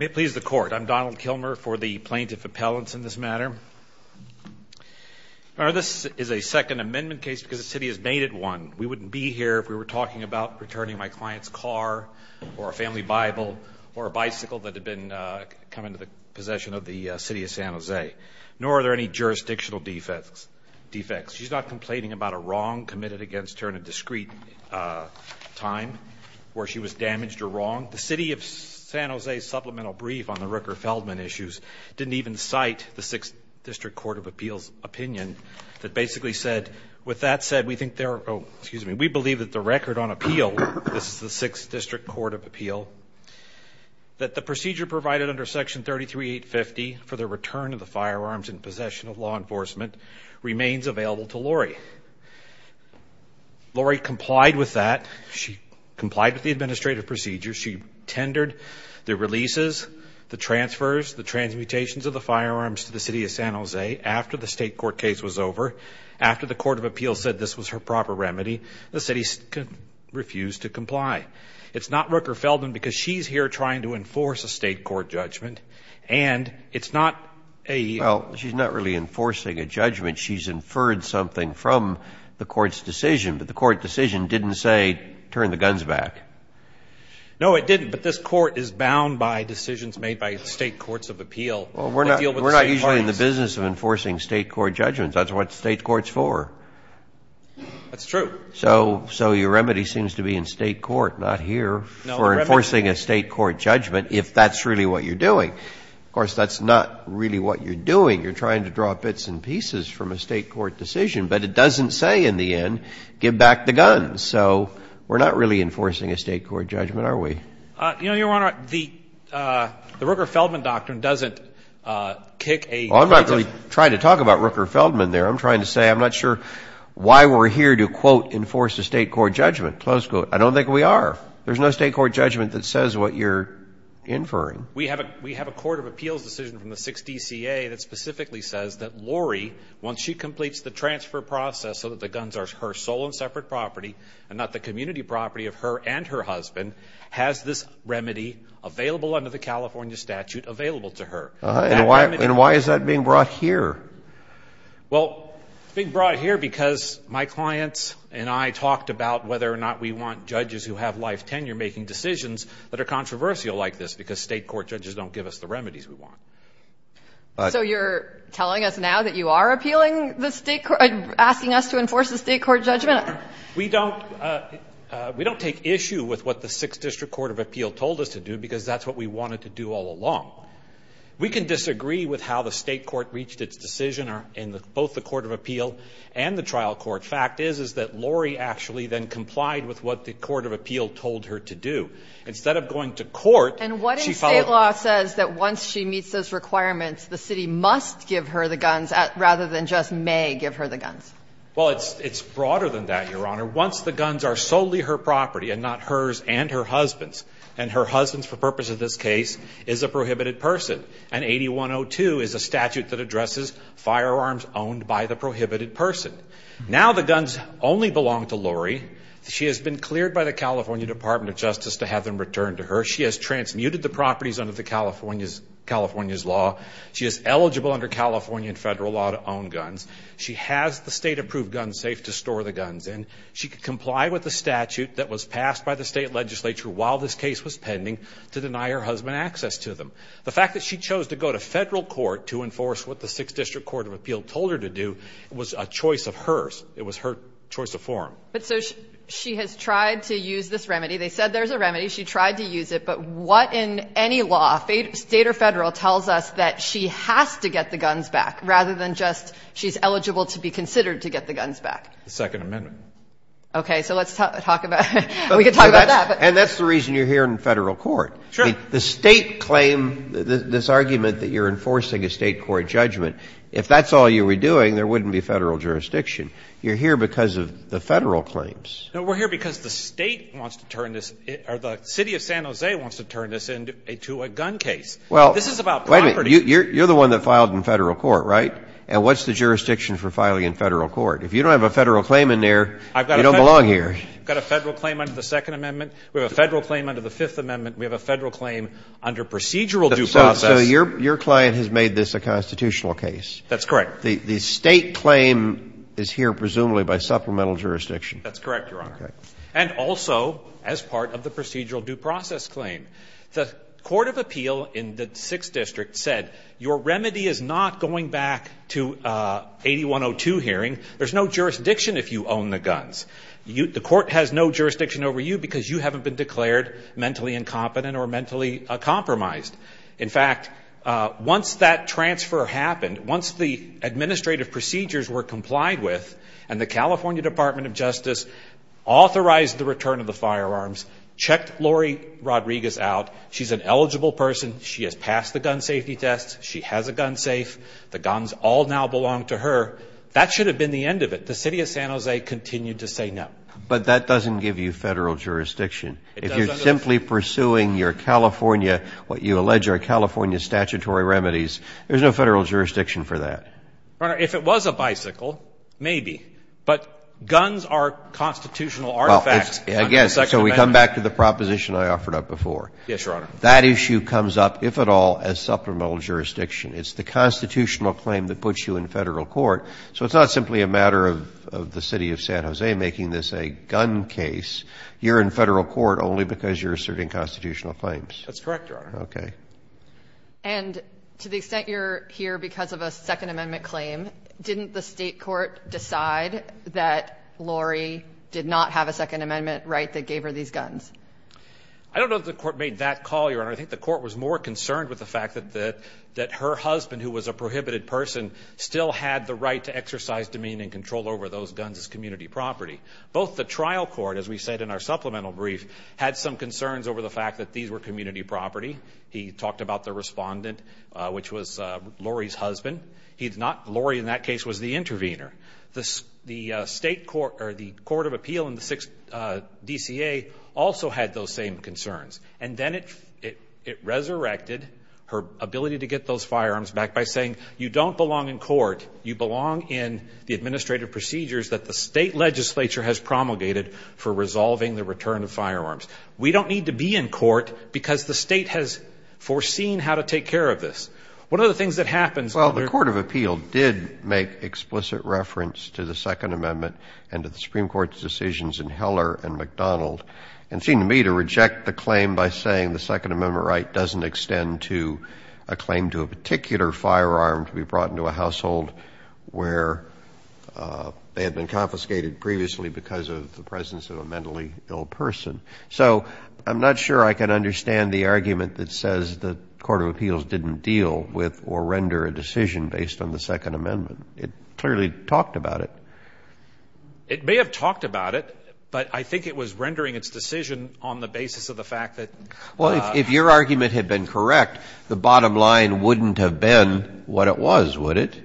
May it please the Court, I'm Donald Kilmer for the Plaintiff Appellants in this matter. This is a Second Amendment case because the City has made it one. We wouldn't be here if we were talking about returning my client's car, or a family Bible, or a bicycle that had come into the possession of the City of San Jose. Nor are there any jurisdictional defects. She's not complaining about a wrong committed against her in a discreet time where she was damaged or wronged. The City of San Jose's supplemental brief on the Rooker-Feldman issues didn't even cite the 6th District Court of Appeals opinion that basically said, with that said, we believe that the record on appeal, this is the 6th District Court of Appeal, that the procedure provided under Section 33850 for the return of the firearms in possession of law enforcement remains available to Lori. Lori complied with that. She complied with the administrative procedure. She tendered the releases, the transfers, the transmutations of the firearms to the City of San Jose after the State Court case was over, after the Court of Appeals said this was her proper remedy. The City refused to comply. It's not Rooker-Feldman because she's here trying to enforce a State Court judgment, and it's not a... Well, she's not really enforcing a judgment. She's inferred something from the Court's decision, but the Court decision didn't say turn the guns back. No, it didn't, but this Court is bound by decisions made by State Courts of Appeal. Well, we're not usually in the business of enforcing State Court judgments. That's what the State Court's for. That's true. So your remedy seems to be in State court, not here, for enforcing a State court judgment, if that's really what you're doing. Of course, that's not really what you're doing. You're trying to draw bits and pieces from a State court decision, but it doesn't say in the end, give back the guns. So we're not really enforcing a State court judgment, are we? You know, Your Honor, the Rooker-Feldman doctrine doesn't kick a... Well, I'm not really trying to talk about Rooker-Feldman there. I'm trying to say I'm not sure why we're here to, quote, enforce a State court judgment, close quote. I don't think we are. There's no State court judgment that says what you're inferring. We have a Court of Appeals decision from the 6th DCA that specifically says that Laurie, once she completes the transfer process so that the guns are her sole and separate property and not the community property of her and her husband, has this remedy available under the California statute available to her. And why is that being brought here? Well, it's being brought here because my clients and I talked about whether or not we want judges who have life tenure making decisions that are controversial like this, because State court judges don't give us the remedies we want. So you're telling us now that you are appealing the State court, asking us to enforce a State court judgment? We don't take issue with what the 6th District Court of Appeal told us to do, because that's what we wanted to do all along. We can disagree with how the State court reached its decision in both the Court of Appeal and the trial court. Fact is, is that Laurie actually then complied with what the Court of Appeal told her to do. Instead of going to court, she followed up. And what if State law says that once she meets those requirements, the city must give her the guns rather than just may give her the guns? Well, it's broader than that, Your Honor. Once the guns are solely her property and not hers and her husband's, and her husband's, for purpose of this case, is a prohibited person. And 8102 is a statute that addresses firearms owned by the prohibited person. Now the guns only belong to Laurie. She has been cleared by the California Department of Justice to have them returned to her. She has transmuted the properties under California's law. She is eligible under California and federal law to own guns. She has the State-approved gun safe to store the guns in. She could comply with the statute that was passed by the State legislature while this case was pending to deny her husband access to them. The fact that she chose to go to federal court to enforce what the Sixth District Court of Appeal told her to do was a choice of hers. It was her choice of forum. But so she has tried to use this remedy. They said there's a remedy. She tried to use it. But what in any law, State or federal, tells us that she has to get the guns back rather than just she's eligible to be considered to get the guns back? The Second Amendment. Okay. So let's talk about that. And that's the reason you're here in federal court. Sure. The State claim, this argument that you're enforcing a State court judgment, if that's all you were doing, there wouldn't be Federal jurisdiction. You're here because of the Federal claims. No, we're here because the State wants to turn this or the city of San Jose wants to turn this into a gun case. Well, wait a minute. You're the one that filed in Federal court, right? And what's the jurisdiction for filing in Federal court? If you don't have a Federal claim in there, you don't belong here. I've got a Federal claim under the Second Amendment. We have a Federal claim under the Fifth Amendment. We have a Federal claim under procedural due process. So your client has made this a constitutional case. That's correct. The State claim is here presumably by supplemental jurisdiction. That's correct, Your Honor. Okay. And also as part of the procedural due process claim. The Court of Appeal in the 6th District said, your remedy is not going back to 8102 hearing. There's no jurisdiction if you own the guns. The court has no jurisdiction over you because you haven't been declared mentally incompetent or mentally compromised. In fact, once that transfer happened, once the administrative procedures were complied with and the California Department of Justice authorized the return of the firearms, checked Lori Rodriguez out, she's an eligible person, she has passed the gun safety test, she has a gun safe, the guns all now belong to her, that should have been the end of it. The City of San Jose continued to say no. But that doesn't give you Federal jurisdiction. It doesn't. If you're simply pursuing your California, what you allege are California statutory remedies, there's no Federal jurisdiction for that. But guns are constitutional artifacts under the Second Amendment. I guess, so we come back to the proposition I offered up before. Yes, Your Honor. That issue comes up, if at all, as supplemental jurisdiction. It's the constitutional claim that puts you in Federal court. So it's not simply a matter of the City of San Jose making this a gun case. You're in Federal court only because you're asserting constitutional claims. That's correct, Your Honor. Okay. And to the extent you're here because of a Second Amendment claim, didn't the state court decide that Lori did not have a Second Amendment right that gave her these guns? I don't know that the court made that call, Your Honor. I think the court was more concerned with the fact that her husband, who was a prohibited person, still had the right to exercise demean and control over those guns as community property. Both the trial court, as we said in our supplemental brief, had some concerns over the fact that these were community property. He talked about the respondent, which was Lori's husband. Lori, in that case, was the intervener. The Court of Appeal in the 6th DCA also had those same concerns. And then it resurrected her ability to get those firearms back by saying, you don't belong in court. You belong in the administrative procedures that the state legislature has promulgated for resolving the return of firearms. We don't need to be in court because the state has foreseen how to take care of this. What are the things that happened? Well, the Court of Appeal did make explicit reference to the Second Amendment and to the Supreme Court's decisions in Heller and McDonald and seemed to me to reject the claim by saying the Second Amendment right doesn't extend to a claim to a particular firearm to be brought into a household where they had been confiscated previously because of the presence of a mentally ill person. So I'm not sure I can understand the argument that says the Court of Appeals didn't deal with or render a decision based on the Second Amendment. It clearly talked about it. It may have talked about it, but I think it was rendering its decision on the basis of the fact that Well, if your argument had been correct, the bottom line wouldn't have been what it was, would it?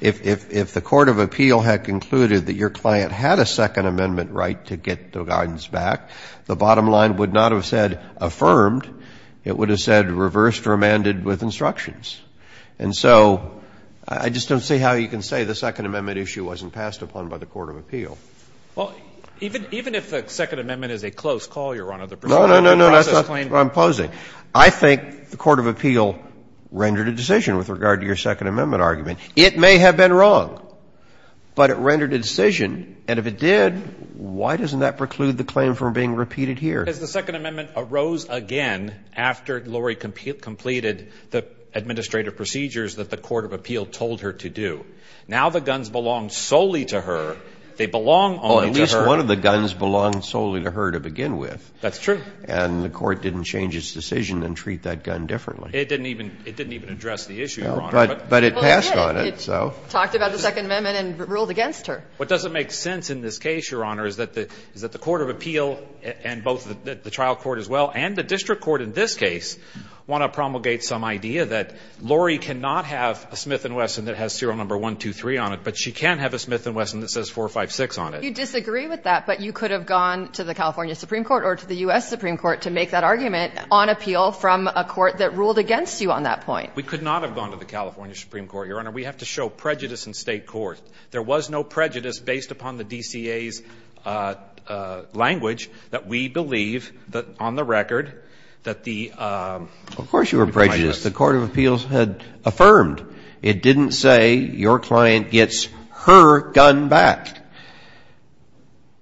If the Court of Appeal had concluded that your client had a Second Amendment right to get the guns back, the bottom line would not have said affirmed. It would have said reversed or amended with instructions. And so I just don't see how you can say the Second Amendment issue wasn't passed upon by the Court of Appeal. Well, even if the Second Amendment is a close call, Your Honor, the procedure No, no, no, no. That's not what I'm proposing. I think the Court of Appeal rendered a decision with regard to your Second Amendment argument. It may have been wrong, but it rendered a decision. And if it did, why doesn't that preclude the claim from being repeated here? Because the Second Amendment arose again after Lori completed the administrative procedures that the Court of Appeal told her to do. Now the guns belong solely to her. They belong only to her. Well, at least one of the guns belonged solely to her to begin with. That's true. And the Court didn't change its decision and treat that gun differently. It didn't even address the issue, Your Honor. But it passed on it. Well, it did. It talked about the Second Amendment and ruled against her. What doesn't make sense in this case, Your Honor, is that the Court of Appeal and both the trial court as well and the district court in this case want to promulgate some idea that Lori cannot have a Smith & Wesson that has serial number 123 on it, but she can have a Smith & Wesson that says 456 on it. You disagree with that, but you could have gone to the California Supreme Court or to the U.S. Supreme Court to make that argument on appeal from a court that ruled against you on that point. We could not have gone to the California Supreme Court, Your Honor. We have to show prejudice in state court. There was no prejudice based upon the DCA's language that we believe that on the record that the plaintiffs ---- Of course you were prejudiced. The Court of Appeals had affirmed. It didn't say your client gets her gun back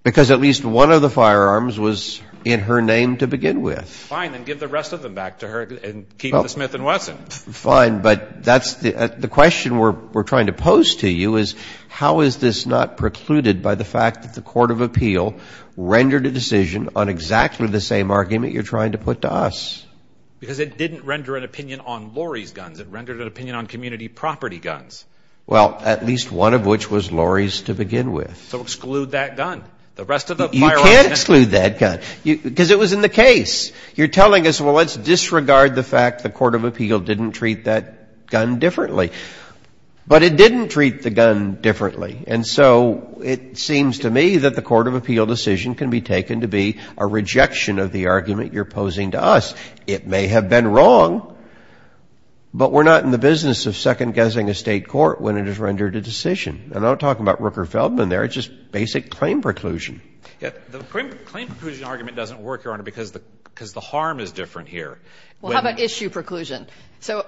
because at least one of the firearms was in her name to begin with. Fine. Then give the rest of them back to her and keep the Smith & Wesson. Fine. But that's the question we're trying to pose to you is how is this not precluded by the fact that the Court of Appeal rendered a decision on exactly the same argument you're trying to put to us? Because it didn't render an opinion on Lori's guns. It rendered an opinion on community property guns. Well, at least one of which was Lori's to begin with. So exclude that gun. The rest of the firearms ---- You can't exclude that gun because it was in the case. You're telling us, well, let's disregard the fact the Court of Appeal didn't treat that gun differently. But it didn't treat the gun differently. And so it seems to me that the Court of Appeal decision can be taken to be a rejection of the argument you're posing to us. It may have been wrong, but we're not in the business of second-guessing a State court when it has rendered a decision. And I'm not talking about Rooker-Feldman there. It's just basic claim preclusion. The claim preclusion argument doesn't work, Your Honor, because the harm is different here. Well, how about issue preclusion? So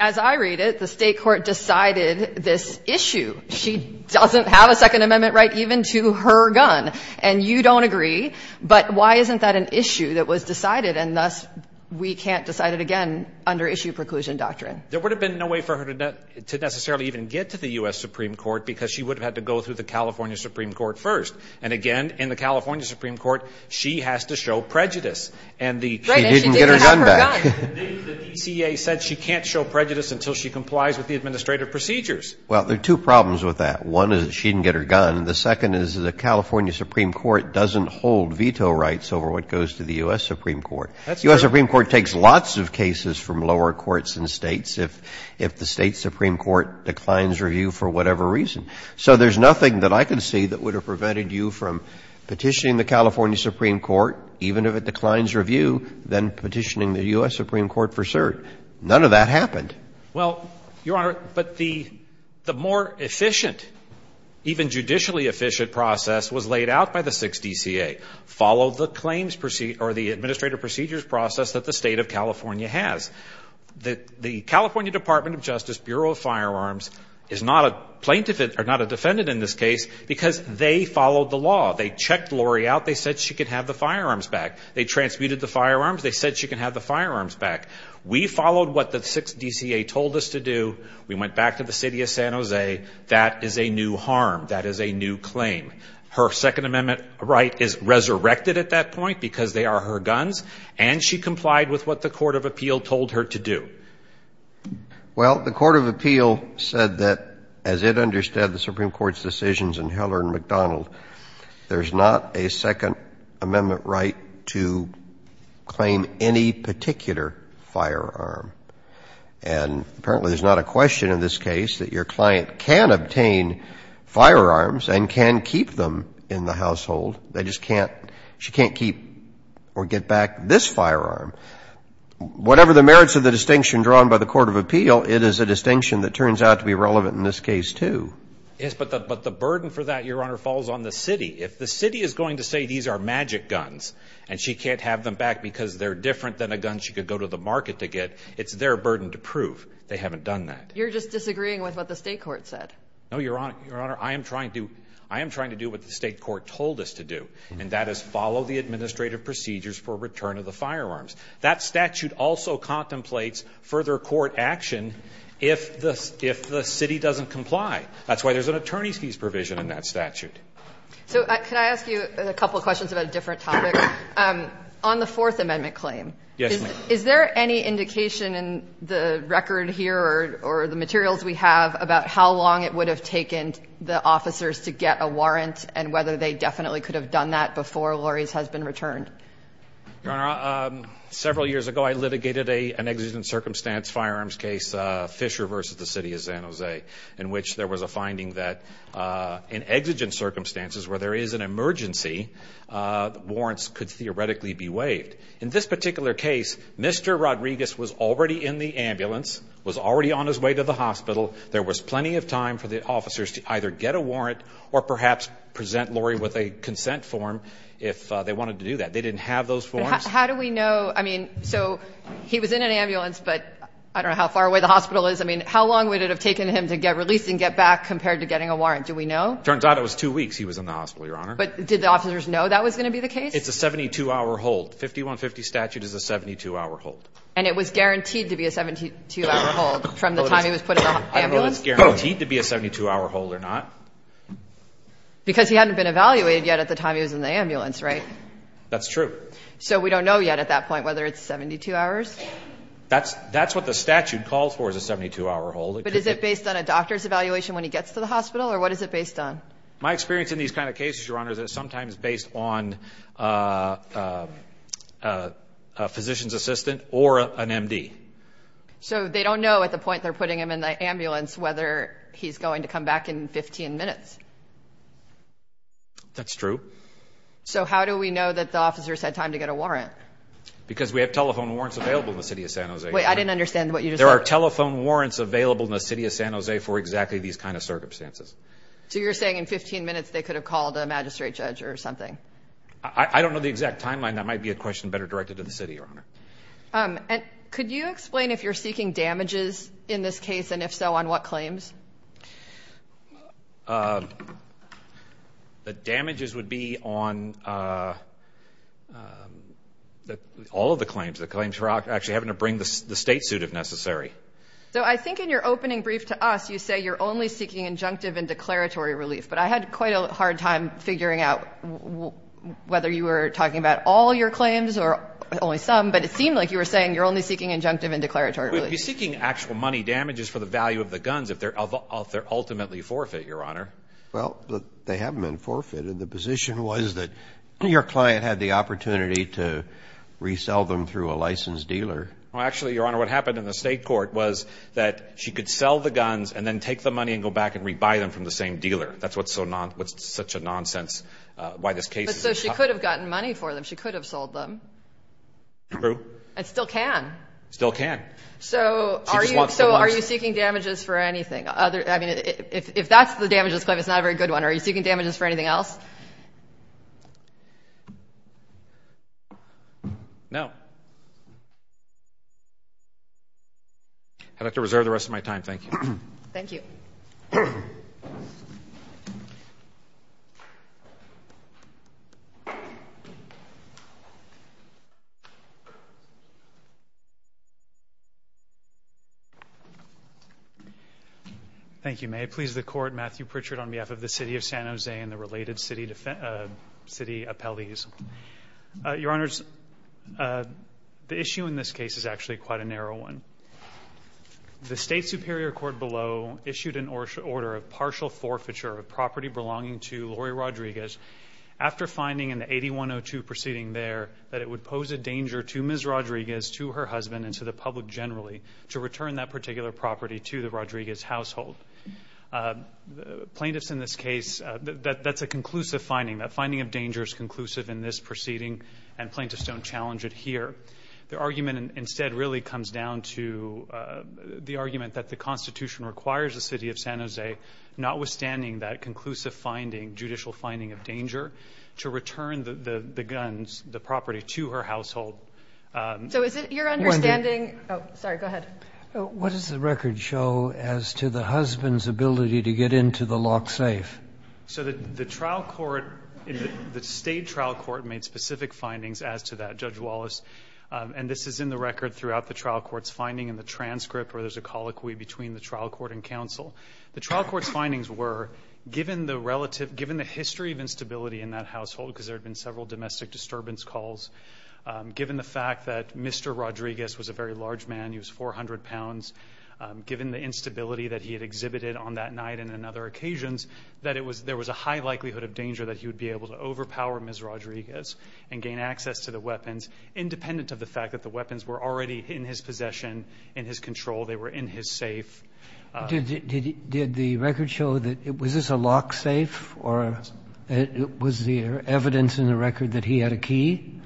as I read it, the State court decided this issue. She doesn't have a Second Amendment right even to her gun. And you don't agree. But why isn't that an issue that was decided, and thus we can't decide it again under issue preclusion doctrine? There would have been no way for her to necessarily even get to the U.S. Supreme Court because she would have had to go through the California Supreme Court first. And again, in the California Supreme Court, she has to show prejudice. And the DCA said she can't show prejudice until she complies with the administrative procedures. Well, there are two problems with that. One is she didn't get her gun. The second is the California Supreme Court doesn't hold veto rights over what goes to the U.S. Supreme Court. The U.S. Supreme Court takes lots of cases from lower courts and States. If the State Supreme Court declines review for whatever reason. So there's nothing that I can see that would have prevented you from petitioning the California Supreme Court, even if it declines review, then petitioning the U.S. Supreme Court for cert. None of that happened. Well, Your Honor, but the more efficient, even judicially efficient process was laid out by the 6th DCA. Follow the claims or the administrative procedures process that the State of California The California Department of Justice Bureau of Firearms is not a plaintiff or not a defendant in this case because they followed the law. They checked Lori out. They said she could have the firearms back. They transmuted the firearms. They said she could have the firearms back. We followed what the 6th DCA told us to do. We went back to the City of San Jose. That is a new harm. That is a new claim. Her Second Amendment right is resurrected at that point because they are her guns. And she complied with what the Court of Appeal told her to do. Well, the Court of Appeal said that as it understood the Supreme Court's decisions in Heller and McDonald, there's not a Second Amendment right to claim any particular firearm. And apparently there's not a question in this case that your client can obtain firearms and can keep them in the household. She can't keep or get back this firearm. Whatever the merits of the distinction drawn by the Court of Appeal, it is a distinction that turns out to be relevant in this case, too. Yes, but the burden for that, Your Honor, falls on the city. If the city is going to say these are magic guns and she can't have them back because they're different than a gun she could go to the market to get, it's their burden to prove they haven't done that. You're just disagreeing with what the State court said. No, Your Honor. I am trying to do what the State court told us to do, and that is follow the administrative procedures for return of the firearms. That statute also contemplates further court action if the city doesn't comply. That's why there's an attorney's fees provision in that statute. So can I ask you a couple of questions about a different topic? On the Fourth Amendment claim, is there any indication in the record here or the materials we have about how long it would have taken the officers to get a warrant and whether they definitely could have done that before Lori's has been returned? Your Honor, several years ago I litigated an exigent circumstance firearms case, Fisher v. The City of San Jose, in which there was a finding that in exigent circumstances where there is an emergency, warrants could theoretically be waived. In this particular case, Mr. Rodriguez was already in the ambulance, was already on his way to the hospital. There was plenty of time for the officers to either get a warrant or perhaps present Lori with a consent form if they wanted to do that. They didn't have those forms. How do we know? I mean, so he was in an ambulance, but I don't know how far away the hospital is. I mean, how long would it have taken him to get released and get back compared to getting a warrant? Do we know? It turns out it was two weeks he was in the hospital, Your Honor. But did the officers know that was going to be the case? It's a 72-hour hold. 5150 statute is a 72-hour hold. And it was guaranteed to be a 72-hour hold from the time he was put in the ambulance? I don't know if it's guaranteed to be a 72-hour hold or not. Because he hadn't been evaluated yet at the time he was in the ambulance, right? That's true. So we don't know yet at that point whether it's 72 hours? That's what the statute calls for is a 72-hour hold. But is it based on a doctor's evaluation when he gets to the hospital or what is it based on? My experience in these kind of cases, Your Honor, is that it's sometimes based on a physician's assistant or an M.D. So they don't know at the point they're putting him in the ambulance whether he's going to come back in 15 minutes? That's true. So how do we know that the officers had time to get a warrant? Because we have telephone warrants available in the city of San Jose. Wait, I didn't understand what you just said. There are telephone warrants available in the city of San Jose for exactly these kind of circumstances. So you're saying in 15 minutes they could have called a magistrate judge or something? I don't know the exact timeline. That might be a question better directed to the city, Your Honor. Could you explain if you're seeking damages in this case, and if so, on what claims? The damages would be on all of the claims. The claims for actually having to bring the state suit if necessary. So I think in your opening brief to us you say you're only seeking injunctive and declaratory relief. But I had quite a hard time figuring out whether you were talking about all your claims or only some. But it seemed like you were saying you're only seeking injunctive and declaratory relief. Would you be seeking actual money damages for the value of the guns if they're ultimately forfeit, Your Honor? Well, they haven't been forfeited. The position was that your client had the opportunity to resell them through a licensed dealer. Well, actually, Your Honor, what happened in the state court was that she could sell the guns and then take the money and go back and rebuy them from the same dealer. That's what's such a nonsense, why this case is in court. But so she could have gotten money for them. She could have sold them. True. And still can. Still can. She just wants the ones. So are you seeking damages for anything? I mean, if that's the damages claim, it's not a very good one. Are you seeking damages for anything else? No. I'd like to reserve the rest of my time. Thank you. Thank you. Thank you. May it please the Court, Matthew Pritchard on behalf of the City of San Jose and the related city appellees. Your Honors, the issue in this case is actually quite a narrow one. The State Superior Court below issued an order of partial forfeiture of property belonging to Lori Rodriguez after finding in the 8102 proceeding there that it would pose a danger to Ms. Rodriguez, to her husband, and to the public generally to return that particular property to the Rodriguez household. Plaintiffs in this case, that's a conclusive finding. That finding of danger is conclusive in this proceeding, and plaintiffs don't challenge it here. The argument instead really comes down to the argument that the Constitution requires the City of San Jose, notwithstanding that conclusive finding, judicial finding of danger, to return the guns, the property, to her household. So is it your understanding? Oh, sorry. Go ahead. What does the record show as to the husband's ability to get into the locked safe? So the trial court, the State trial court made specific findings as to that. And this is in the record throughout the trial court's finding in the transcript where there's a colloquy between the trial court and counsel. The trial court's findings were, given the history of instability in that household because there had been several domestic disturbance calls, given the fact that Mr. Rodriguez was a very large man, he was 400 pounds, given the instability that he had exhibited on that night and on other occasions, that there was a high likelihood of danger that he would be able to independent of the fact that the weapons were already in his possession, in his control, they were in his safe. Did the record show that it was just a locked safe or was there evidence in the record that he had a key?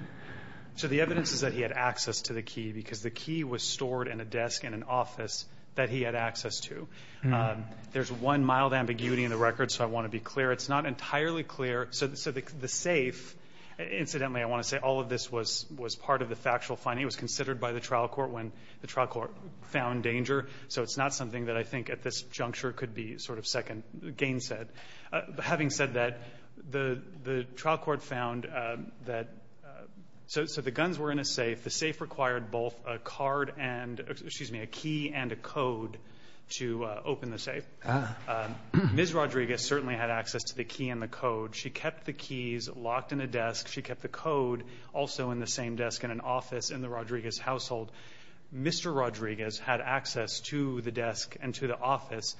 So the evidence is that he had access to the key because the key was stored in a desk in an office that he had access to. There's one mild ambiguity in the record, so I want to be clear. It's not entirely clear. So the safe, incidentally I want to say all of this was part of the factual finding, it was considered by the trial court when the trial court found danger, so it's not something that I think at this juncture could be sort of second gainsaid. Having said that, the trial court found that so the guns were in a safe, the safe required both a key and a code to open the safe. Ms. Rodriguez certainly had access to the key and the code. She kept the keys locked in a desk. She kept the code also in the same desk in an office in the Rodriguez household. Mr. Rodriguez had access to the desk and to the office.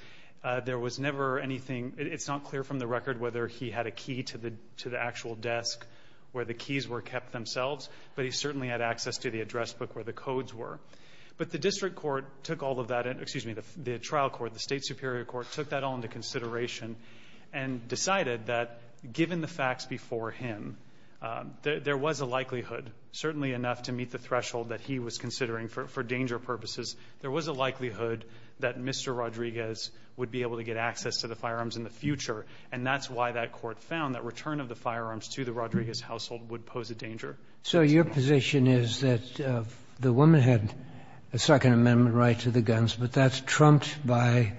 There was never anything, it's not clear from the record whether he had a key to the actual desk where the keys were kept themselves, but he certainly had access to the address book where the codes were. But the district court took all of that, excuse me, the trial court, the state superior court took that all into consideration and decided that given the facts before him, there was a likelihood, certainly enough to meet the threshold that he was considering for danger purposes, there was a likelihood that Mr. Rodriguez would be able to get access to the firearms in the future and that's why that court found that return of the firearms to the Rodriguez household would pose a danger. So your position is that the woman had a second amendment right to the guns, but that's trumped by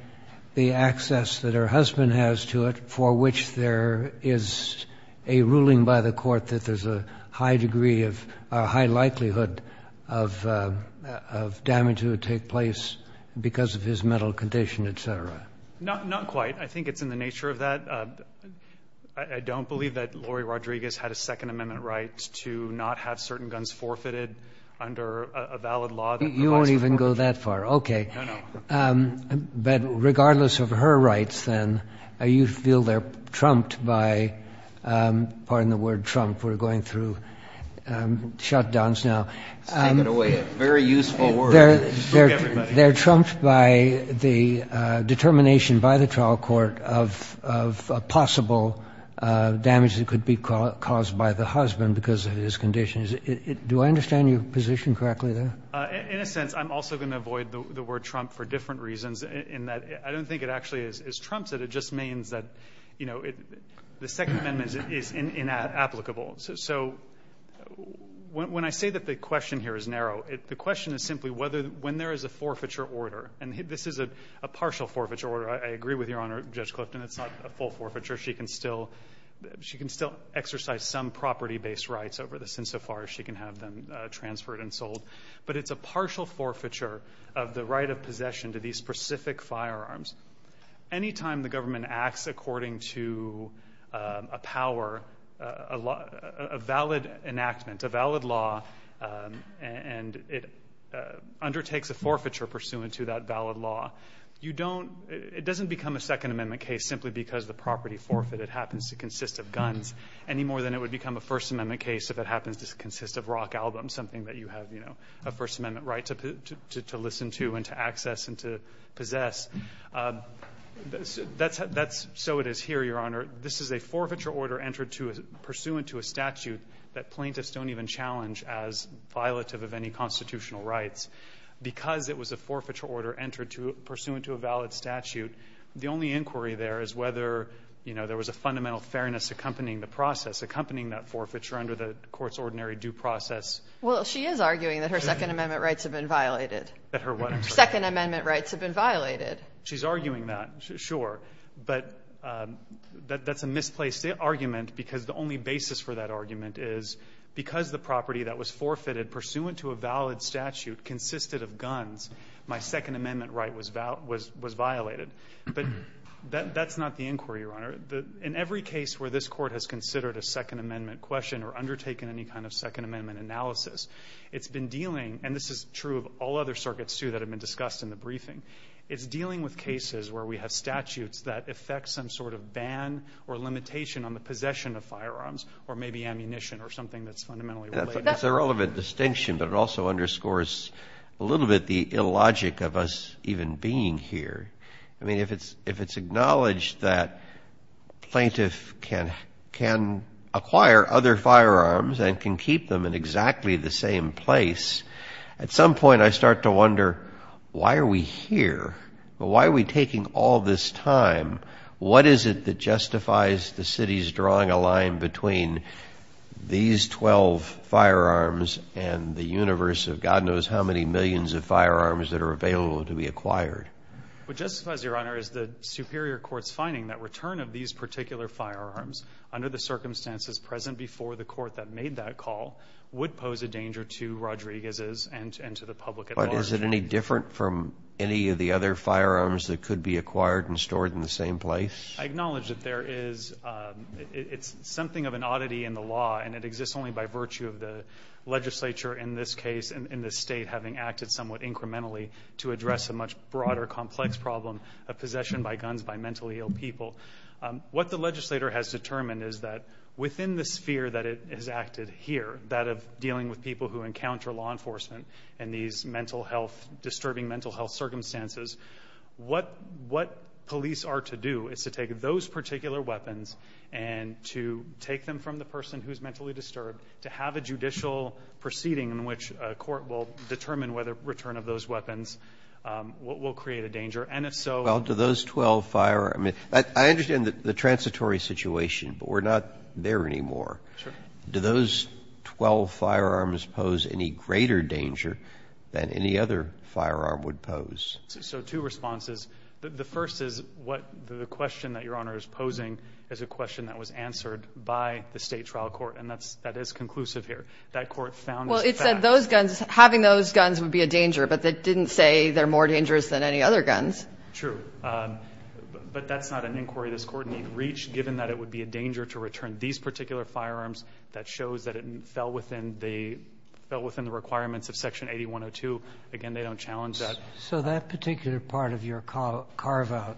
the access that her husband has to it, for which there is a ruling by the court that there's a high degree of, a high likelihood of damage that would take place because of his mental condition, et cetera. Not quite. I think it's in the nature of that. I don't believe that Laurie Rodriguez had a second amendment right to not have certain guns forfeited under a valid law. You won't even go that far. Okay. No, no. But regardless of her rights then, you feel they're trumped by, pardon the word trump, we're going through shutdowns now. Take it away. Very useful word. They're trumped by the determination by the trial court of a possible damage that could be caused by the husband because of his condition. Do I understand your position correctly there? In a sense, I'm also going to avoid the word trump for different reasons in that I don't think it actually is trumped. It just means that the second amendment is inapplicable. So when I say that the question here is narrow, the question is simply when there is a forfeiture order, and this is a partial forfeiture order. I agree with Your Honor, Judge Clifton, it's not a full forfeiture. She can still exercise some property-based rights over this insofar as she can have them transferred and sold. But it's a partial forfeiture of the right of possession to these specific firearms. Anytime the government acts according to a power, a valid enactment, a valid law, and it undertakes a forfeiture pursuant to that valid law, it doesn't become a second amendment case simply because the property forfeited happens to consist of guns any more than it would become a first amendment case if it happens to consist of rock albums, something that you have a first amendment right to listen to and to access and to possess. So it is here, Your Honor. This is a forfeiture order pursuant to a statute that plaintiffs don't even challenge as violative of any constitutional rights. Because it was a forfeiture order pursuant to a valid statute, the only inquiry there is whether there was a fundamental fairness accompanying the process, accompanying that forfeiture under the court's ordinary due process. Well, she is arguing that her second amendment rights have been violated. That her what? Second amendment rights have been violated. She's arguing that, sure. But that's a misplaced argument because the only basis for that argument is because the property that was forfeited pursuant to a valid statute consisted of guns, my second amendment right was violated. But that's not the inquiry, Your Honor. In every case where this Court has considered a second amendment question or undertaken any kind of second amendment analysis, it's been dealing, and this is true of all other circuits, too, that have been discussed in the briefing, it's dealing with cases where we have statutes that affect some sort of ban or limitation on the possession of firearms or maybe ammunition or something that's fundamentally related. It's a relevant distinction, but it also underscores a little bit the illogic of us even being here. I mean, if it's acknowledged that a plaintiff can acquire other firearms and can keep them in exactly the same place, at some point I start to wonder, why are we here? Why are we taking all this time? What is it that justifies the city's drawing a line between these 12 firearms and the universe of God knows how many millions of firearms that are available to be acquired? What justifies it, Your Honor, is the superior court's finding that return of these particular firearms under the circumstances present before the court that made that call would pose a danger to Rodriguez's and to the public at large. But is it any different from any of the other firearms that could be acquired and stored in the same place? I acknowledge that there is something of an oddity in the law, and it exists only by virtue of the legislature in this case and the state having acted somewhat incrementally to address a much broader complex problem of possession by guns by mentally ill people. What the legislator has determined is that within the sphere that it has acted here, that of dealing with people who encounter law enforcement in these disturbing mental health circumstances, what police are to do is to take those particular weapons and to take them from the person who is mentally disturbed to have a judicial proceeding in which a court will determine whether return of those weapons will create a danger. And if so, Well, do those 12 firearms – I understand the transitory situation, but we're not there anymore. Sure. Do those 12 firearms pose any greater danger than any other firearm would pose? So two responses. The first is what the question that Your Honor is posing is a question that was answered by the State trial court, and that is conclusive here. That court found this fact. Well, it said having those guns would be a danger, but it didn't say they're more dangerous than any other guns. True. But that's not an inquiry this court need reach, given that it would be a danger to return these particular firearms. That shows that it fell within the requirements of Section 8102. Again, they don't challenge that. So that particular part of your carve-out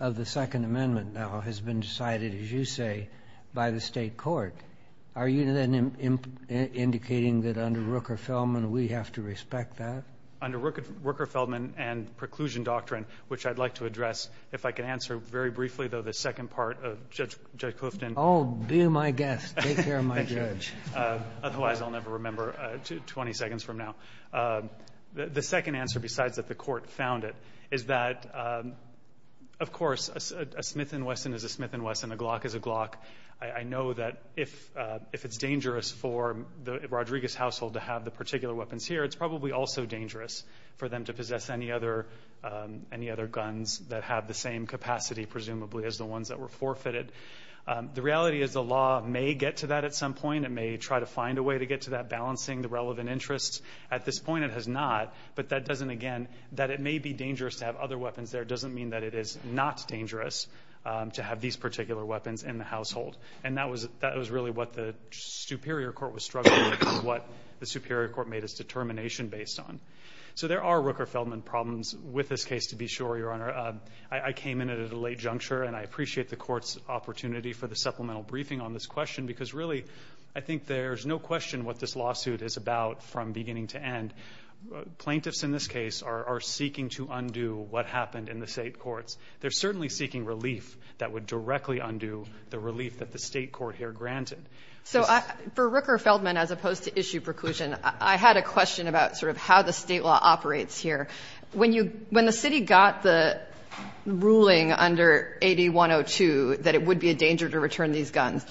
of the Second Amendment now has been decided, as you say, by the State court. Are you then indicating that under Rooker-Feldman we have to respect that? Under Rooker-Feldman and preclusion doctrine, which I'd like to address. If I can answer very briefly, though, the second part of Judge Hoofton. Oh, be my guest. Take care of my judge. Otherwise I'll never remember 20 seconds from now. The second answer, besides that the court found it, is that, of course, a Smith & Wesson is a Smith & Wesson, a Glock is a Glock. I know that if it's dangerous for the Rodriguez household to have the particular weapons here, it's probably also dangerous for them to possess any other guns that have the same capacity, presumably, as the ones that were forfeited. The reality is the law may get to that at some point. It may try to find a way to get to that, balancing the relevant interests. At this point it has not, but that doesn't, again, that it may be dangerous to have other weapons there doesn't mean that it is not dangerous to have these particular weapons in the household. And that was really what the superior court was struggling with and what the superior court made its determination based on. So there are Rooker-Feldman problems with this case, to be sure, Your Honor. I came in at a late juncture, and I appreciate the court's opportunity for the supplemental briefing on this question because, really, I think there's no question what this lawsuit is about from beginning to end. Plaintiffs in this case are seeking to undo what happened in the state courts. They're certainly seeking relief that would directly undo the relief that the state court here granted. So for Rooker-Feldman, as opposed to issue preclusion, I had a question about sort of how the state law operates here. When the city got the ruling under 8102 that it would be a danger to return these guns,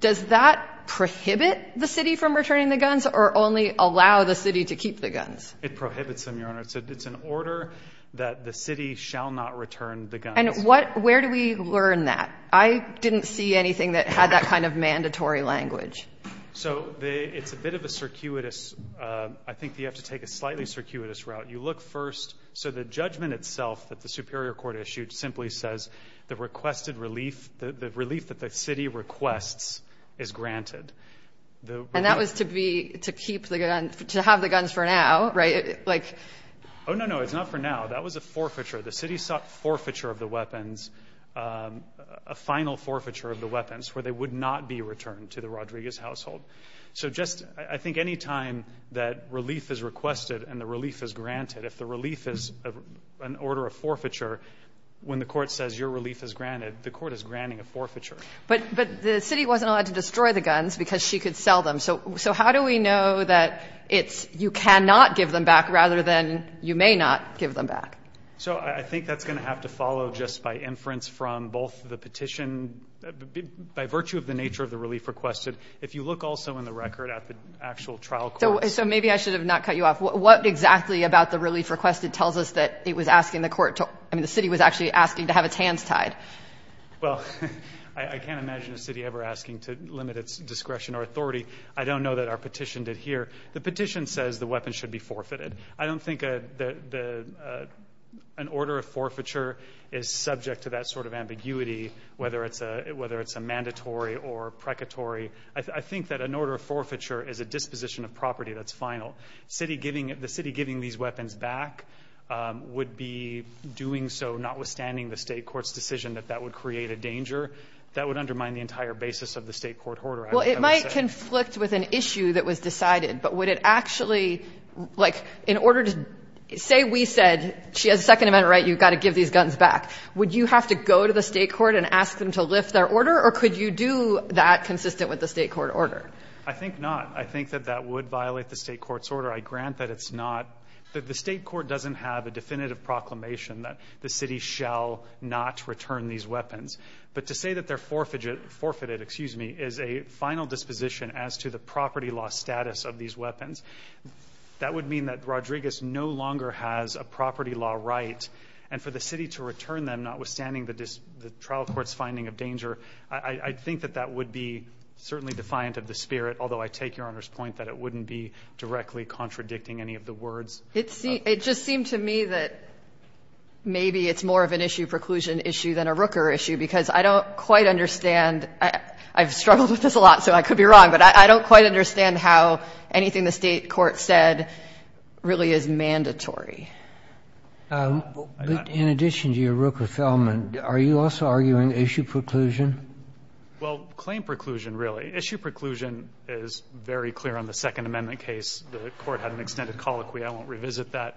does that prohibit the city from returning the guns or only allow the city to keep the guns? It prohibits them, Your Honor. It's an order that the city shall not return the guns. And where do we learn that? I didn't see anything that had that kind of mandatory language. So it's a bit of a circuitous. I think you have to take a slightly circuitous route. You look first. So the judgment itself that the superior court issued simply says the requested relief, the relief that the city requests, is granted. And that was to have the guns for now, right? Oh, no, no, it's not for now. That was a forfeiture. The city sought forfeiture of the weapons, a final forfeiture of the weapons, where they would not be returned to the Rodriguez household. So I think any time that relief is requested and the relief is granted, if the relief is an order of forfeiture, when the court says your relief is granted, the court is granting a forfeiture. But the city wasn't allowed to destroy the guns because she could sell them. So how do we know that you cannot give them back rather than you may not give them back? So I think that's going to have to follow just by inference from both the petition. By virtue of the nature of the relief requested, if you look also in the record at the actual trial court. So maybe I should have not cut you off. What exactly about the relief requested tells us that it was asking the court to – I mean the city was actually asking to have its hands tied? Well, I can't imagine a city ever asking to limit its discretion or authority. I don't know that our petition did here. The petition says the weapons should be forfeited. I don't think an order of forfeiture is subject to that sort of ambiguity, whether it's a mandatory or a precatory. I think that an order of forfeiture is a disposition of property that's final. The city giving these weapons back would be doing so notwithstanding the state court's decision that that would create a danger that would undermine the entire basis of the state court order. Well, it might conflict with an issue that was decided, but would it actually – like in order to – say we said she has a second amendment right, you've got to give these guns back. Would you have to go to the state court and ask them to lift their order or could you do that consistent with the state court order? I think not. I think that that would violate the state court's order. I grant that it's not. The state court doesn't have a definitive proclamation that the city shall not return these weapons. But to say that they're forfeited is a final disposition as to the property law status of these weapons. That would mean that Rodriguez no longer has a property law right, and for the city to return them notwithstanding the trial court's finding of danger, I think that that would be certainly defiant of the spirit, although I take Your Honor's point that it wouldn't be directly contradicting any of the words. It just seemed to me that maybe it's more of an issue preclusion issue than a Rooker issue because I don't quite understand – I've struggled with this a lot so I could be wrong, but I don't quite understand how anything the state court said really is mandatory. In addition to your Rooker-Feldman, are you also arguing issue preclusion? Well, claim preclusion, really. Issue preclusion is very clear on the Second Amendment case. The court had an extended colloquy. I won't revisit that.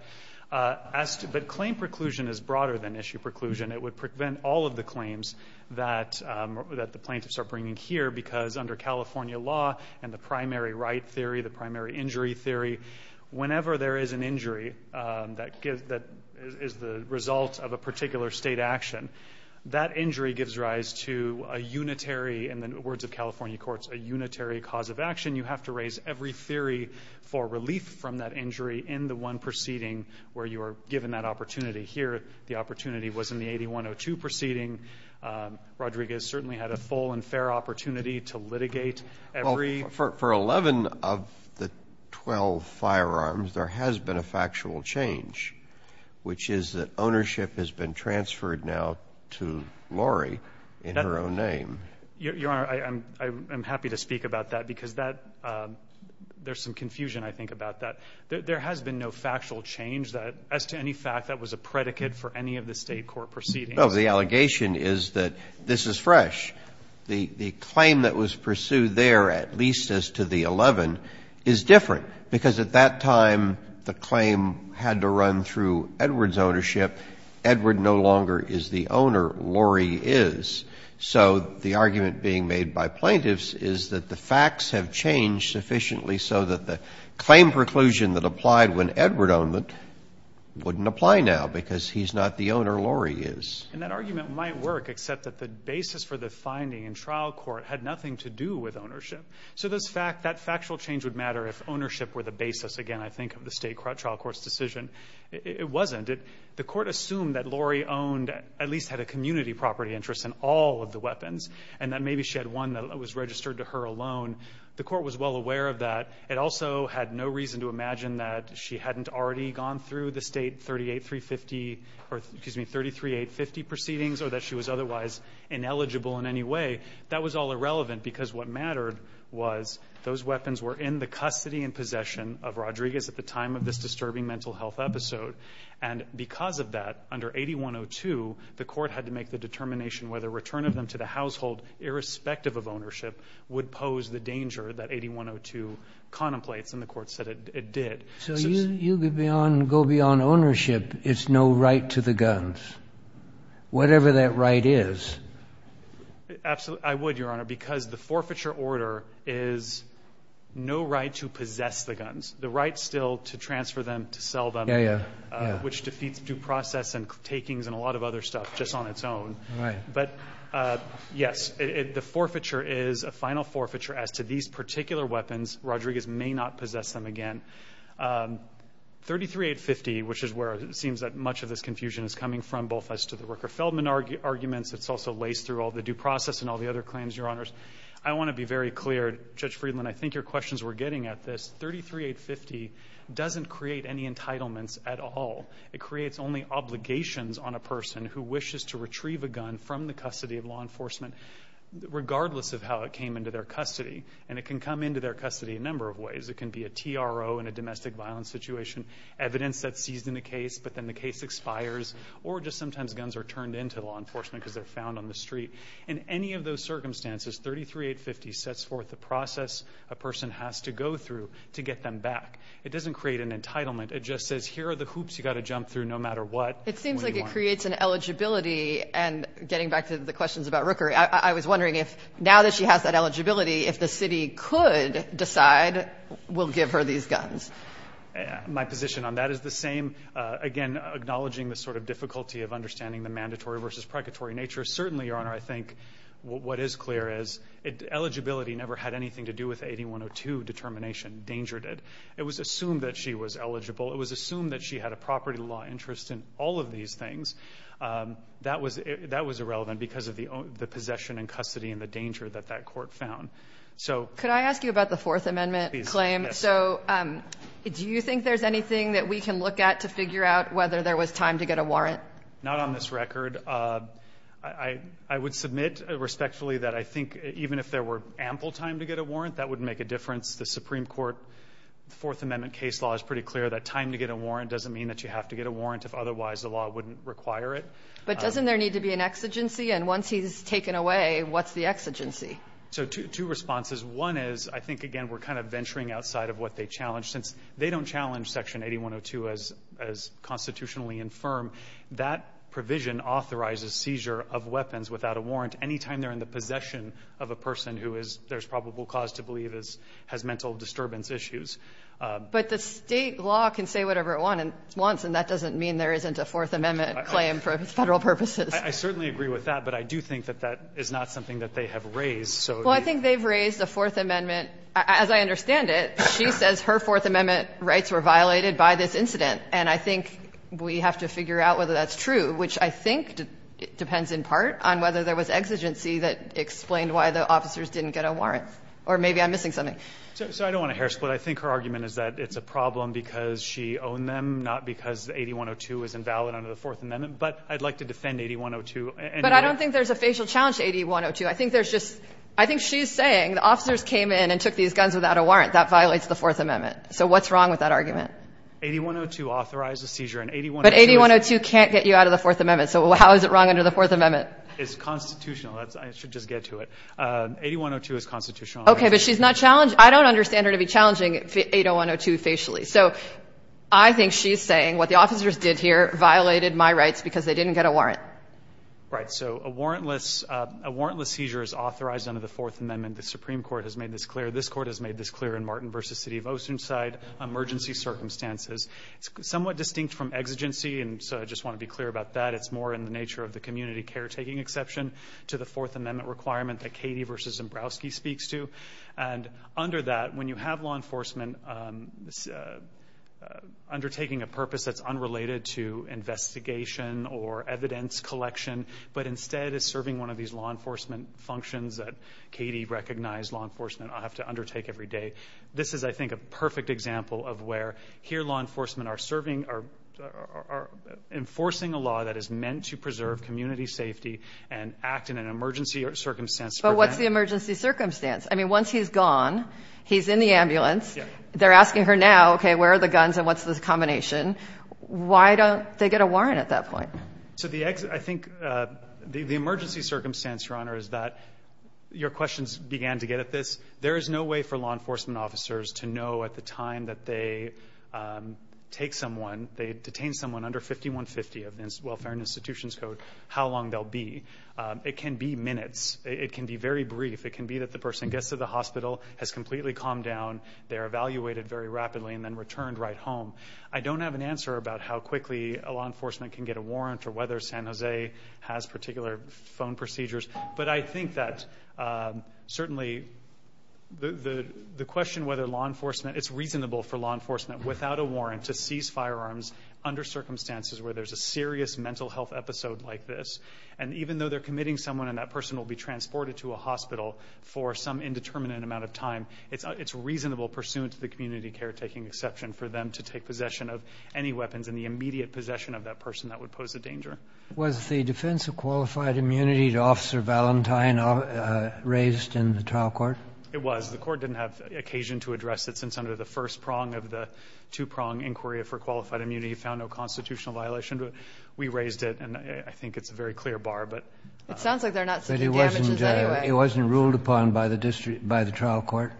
But claim preclusion is broader than issue preclusion. It would prevent all of the claims that the plaintiffs are bringing here because under California law and the primary right theory, the primary injury theory, whenever there is an injury that is the result of a particular state action, that injury gives rise to a unitary, in the words of California courts, a unitary cause of action. You have to raise every theory for relief from that injury in the one proceeding where you are given that opportunity. Here, the opportunity was in the 8102 proceeding. Rodriguez certainly had a full and fair opportunity to litigate every – Well, for 11 of the 12 firearms, there has been a factual change, which is that ownership has been transferred now to Lori in her own name. Your Honor, I'm happy to speak about that because that – there's some confusion, I think, about that. There has been no factual change as to any fact that was a predicate for any of the State court proceedings. No. The allegation is that this is fresh. The claim that was pursued there, at least as to the 11, is different because at that time the claim had to run through Edward's ownership. Edward no longer is the owner. Lori is. So the argument being made by plaintiffs is that the facts have changed sufficiently so that the claim preclusion that applied when Edward owned them wouldn't apply now because he's not the owner. Lori is. And that argument might work except that the basis for the finding in trial court had nothing to do with ownership. So that factual change would matter if ownership were the basis, again, I think, of the State trial court's decision. It wasn't. The court assumed that Lori owned – at least had a community property interest in all of the weapons and that maybe she had one that was registered to her alone. The court was well aware of that. It also had no reason to imagine that she hadn't already gone through the State 38350 – or, excuse me, 33850 proceedings or that she was otherwise ineligible in any way. That was all irrelevant because what mattered was those weapons were in the custody and possession of Rodriguez at the time of this disturbing mental health episode. And because of that, under 8102, the court had to make the determination whether return of them to the household, irrespective of ownership, would pose the danger that 8102 contemplates, and the court said it did. So you go beyond ownership. It's no right to the guns, whatever that right is. Absolutely. I would, Your Honor, because the forfeiture order is no right to possess the guns. The right still to transfer them, to sell them, which defeats due process and takings and a lot of other stuff just on its own. Right. But, yes, the forfeiture is a final forfeiture as to these particular weapons. Rodriguez may not possess them again. 33850, which is where it seems that much of this confusion is coming from, both as to the Rucker-Feldman arguments. It's also laced through all the due process and all the other claims, Your Honors. I want to be very clear, Judge Friedland, I think your questions were getting at this. 33850 doesn't create any entitlements at all. It creates only obligations on a person who wishes to retrieve a gun from the custody of law enforcement, regardless of how it came into their custody. And it can come into their custody a number of ways. It can be a TRO in a domestic violence situation, evidence that's seized in the case, but then the case expires, or just sometimes guns are turned into law enforcement because they're found on the street. In any of those circumstances, 33850 sets forth the process a person has to go through to get them back. It doesn't create an entitlement. It just says here are the hoops you've got to jump through no matter what. It seems like it creates an eligibility, and getting back to the questions about Rucker, I was wondering if now that she has that eligibility, if the city could decide we'll give her these guns. My position on that is the same. Again, acknowledging the sort of difficulty of understanding the mandatory versus precatory nature. Certainly, Your Honor, I think what is clear is eligibility never had anything to do with the 8102 determination. Danger did. It was assumed that she was eligible. It was assumed that she had a property law interest in all of these things. That was irrelevant because of the possession and custody and the danger that that court found. Could I ask you about the Fourth Amendment claim? Yes. Do you think there's anything that we can look at to figure out whether there was time to get a warrant? Not on this record. I would submit respectfully that I think even if there were ample time to get a warrant, that would make a difference. The Supreme Court Fourth Amendment case law is pretty clear that time to get a warrant doesn't mean that you have to get a warrant. If otherwise, the law wouldn't require it. But doesn't there need to be an exigency? And once he's taken away, what's the exigency? Two responses. One is I think, again, we're kind of venturing outside of what they challenged. Since they don't challenge Section 8102 as constitutionally infirm, that provision authorizes seizure of weapons without a warrant any time they're in the possession of a person who there's probable cause to believe has mental disturbance issues. But the state law can say whatever it wants, and that doesn't mean there isn't a Fourth Amendment claim for federal purposes. I certainly agree with that, but I do think that that is not something that they have raised. Kagan is so eager. Well, I think they've raised a Fourth Amendment. As I understand it, she says her Fourth Amendment rights were violated by this incident. And I think we have to figure out whether that's true, which I think depends in part on whether there was exigency that explained why the officers didn't get a warrant. Or maybe I'm missing something. So I don't want to hair-split. I think her argument is that it's a problem because she owned them, not because 8102 is invalid under the Fourth Amendment. But I'd like to defend 8102. But I don't think there's a facial challenge to 8102. I think there's just – I think she's saying the officers came in and took these guns without a warrant. That violates the Fourth Amendment. So what's wrong with that argument? 8102 authorized the seizure. But 8102 can't get you out of the Fourth Amendment, so how is it wrong under the Fourth Amendment? It's constitutional. I should just get to it. 8102 is constitutional. Okay, but she's not – I don't understand her to be challenging 80102 facially. So I think she's saying what the officers did here violated my rights because they didn't get a warrant. Right, so a warrantless seizure is authorized under the Fourth Amendment. The Supreme Court has made this clear. This Court has made this clear in Martin v. City of Oceanside emergency circumstances. It's somewhat distinct from exigency, and so I just want to be clear about that. It's more in the nature of the community caretaking exception to the Fourth Amendment requirement that Katie v. Zembrowski speaks to. And under that, when you have law enforcement undertaking a purpose that's unrelated to investigation or evidence collection, but instead is serving one of these law enforcement functions that Katie recognized law enforcement ought to undertake every day, this is, I think, a perfect example of where here law enforcement are serving or enforcing a law that is meant to preserve community safety and act in an emergency circumstance. But what's the emergency circumstance? I mean, once he's gone, he's in the ambulance. They're asking her now, okay, where are the guns and what's the combination? Why don't they get a warrant at that point? So I think the emergency circumstance, Your Honor, is that your questions began to get at this. There is no way for law enforcement officers to know at the time that they take someone, they detain someone under 5150 of the Welfare and Institutions Code how long they'll be. It can be minutes. It can be very brief. It can be that the person gets to the hospital, has completely calmed down, they're evaluated very rapidly, and then returned right home. I don't have an answer about how quickly law enforcement can get a warrant or whether San Jose has particular phone procedures, but I think that certainly the question whether law enforcement, it's reasonable for law enforcement without a warrant to seize firearms under circumstances where there's a serious mental health episode like this. And even though they're committing someone and that person will be transported to a hospital for some indeterminate amount of time, it's reasonable pursuant to the community caretaking exception for them to take possession of any weapons and the immediate possession of that person that would pose a danger. Was the defense of qualified immunity to Officer Valentine raised in the trial court? It was. The court didn't have occasion to address it since under the first prong of the two-prong inquiry for qualified immunity found no constitutional violation. We raised it, and I think it's a very clear bar. It sounds like they're not seeking damages anyway. It wasn't ruled upon by the trial court?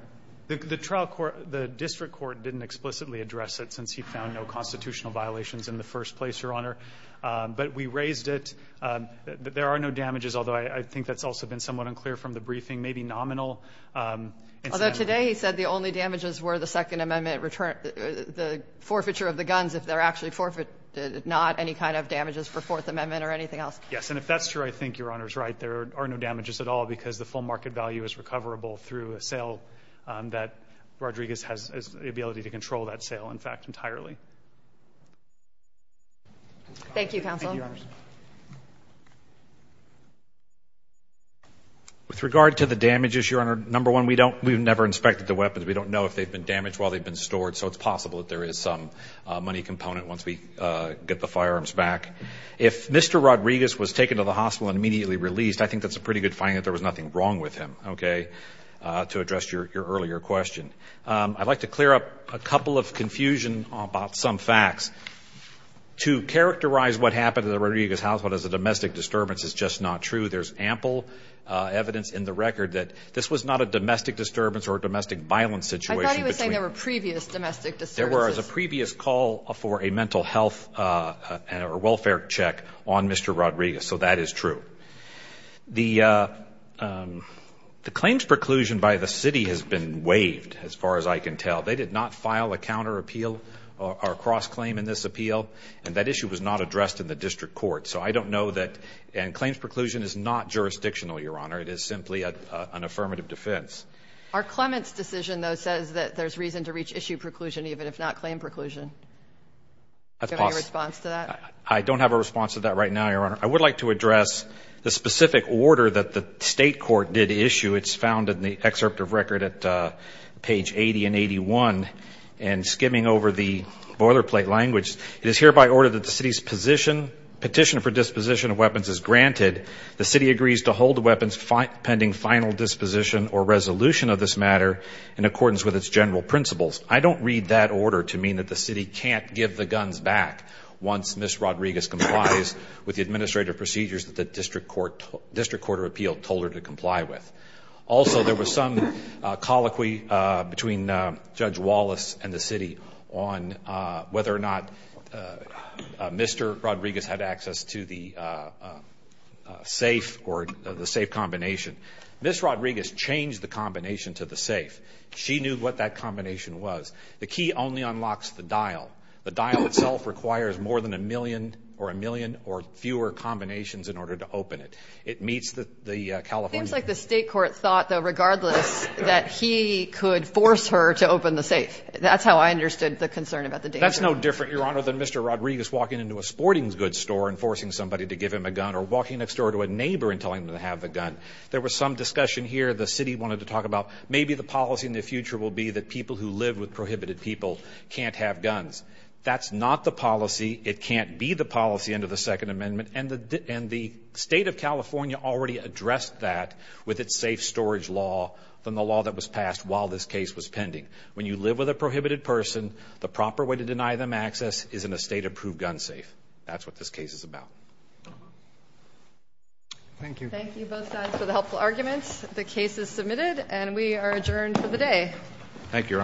The district court didn't explicitly address it since he found no constitutional violations in the first place, Your Honor. But we raised it. There are no damages, although I think that's also been somewhat unclear from the briefing, maybe nominal. Although today he said the only damages were the Second Amendment, the forfeiture of the guns, if they're actually not any kind of damages for Fourth Amendment or anything else. Yes, and if that's true, I think Your Honor's right. There are no damages at all because the full market value is recoverable through a sale that Rodriguez has the ability to control that sale, in fact, entirely. Thank you, counsel. Thank you, Your Honor. With regard to the damages, Your Honor, number one, we've never inspected the weapons. We don't know if they've been damaged while they've been stored, so it's possible that there is some money component once we get the firearms back. If Mr. Rodriguez was taken to the hospital and immediately released, I think that's a pretty good finding that there was nothing wrong with him, okay, to address your earlier question. I'd like to clear up a couple of confusion about some facts. To characterize what happened to the Rodriguez household as a domestic disturbance is just not true. There's ample evidence in the record that this was not a domestic disturbance or a domestic violence situation. I thought he was saying there were previous domestic disturbances. There were as a previous call for a mental health or welfare check on Mr. Rodriguez, so that is true. The claims preclusion by the city has been waived as far as I can tell. They did not file a counter appeal or a cross-claim in this appeal, and that issue was not addressed in the district court. So I don't know that claims preclusion is not jurisdictional, Your Honor. Our Clements decision, though, says that there's reason to reach issue preclusion even if not claim preclusion. That's possible. Do you have a response to that? I don't have a response to that right now, Your Honor. I would like to address the specific order that the state court did issue. It's found in the excerpt of record at page 80 and 81. And skimming over the boilerplate language, it is hereby ordered that the city's petition for disposition of weapons is granted. The city agrees to hold the weapons pending final disposition or resolution of this matter in accordance with its general principles. I don't read that order to mean that the city can't give the guns back once Ms. Rodriguez complies with the administrative procedures that the district court of appeal told her to comply with. Also, there was some colloquy between Judge Wallace and the city on whether or not Mr. Rodriguez had access to the safe or the safe combination. Ms. Rodriguez changed the combination to the safe. She knew what that combination was. The key only unlocks the dial. The dial itself requires more than a million or a million or fewer combinations in order to open it. It meets the California law. It seems like the state court thought, though, regardless that he could force her to open the safe. That's how I understood the concern about the danger. That's no different, Your Honor, than Mr. Rodriguez walking into a sporting goods store and forcing somebody to give him a gun or walking next door to a neighbor and telling them to have the gun. There was some discussion here. The city wanted to talk about maybe the policy in the future will be that people who live with prohibited people can't have guns. That's not the policy. It can't be the policy under the Second Amendment, and the state of California already addressed that with its safe storage law than the law that was passed while this case was pending. When you live with a prohibited person, the proper way to deny them access is in a state-approved gun safe. That's what this case is about. Thank you. Thank you, both sides, for the helpful arguments. The case is submitted, and we are adjourned for the day. Thank you, Your Honor.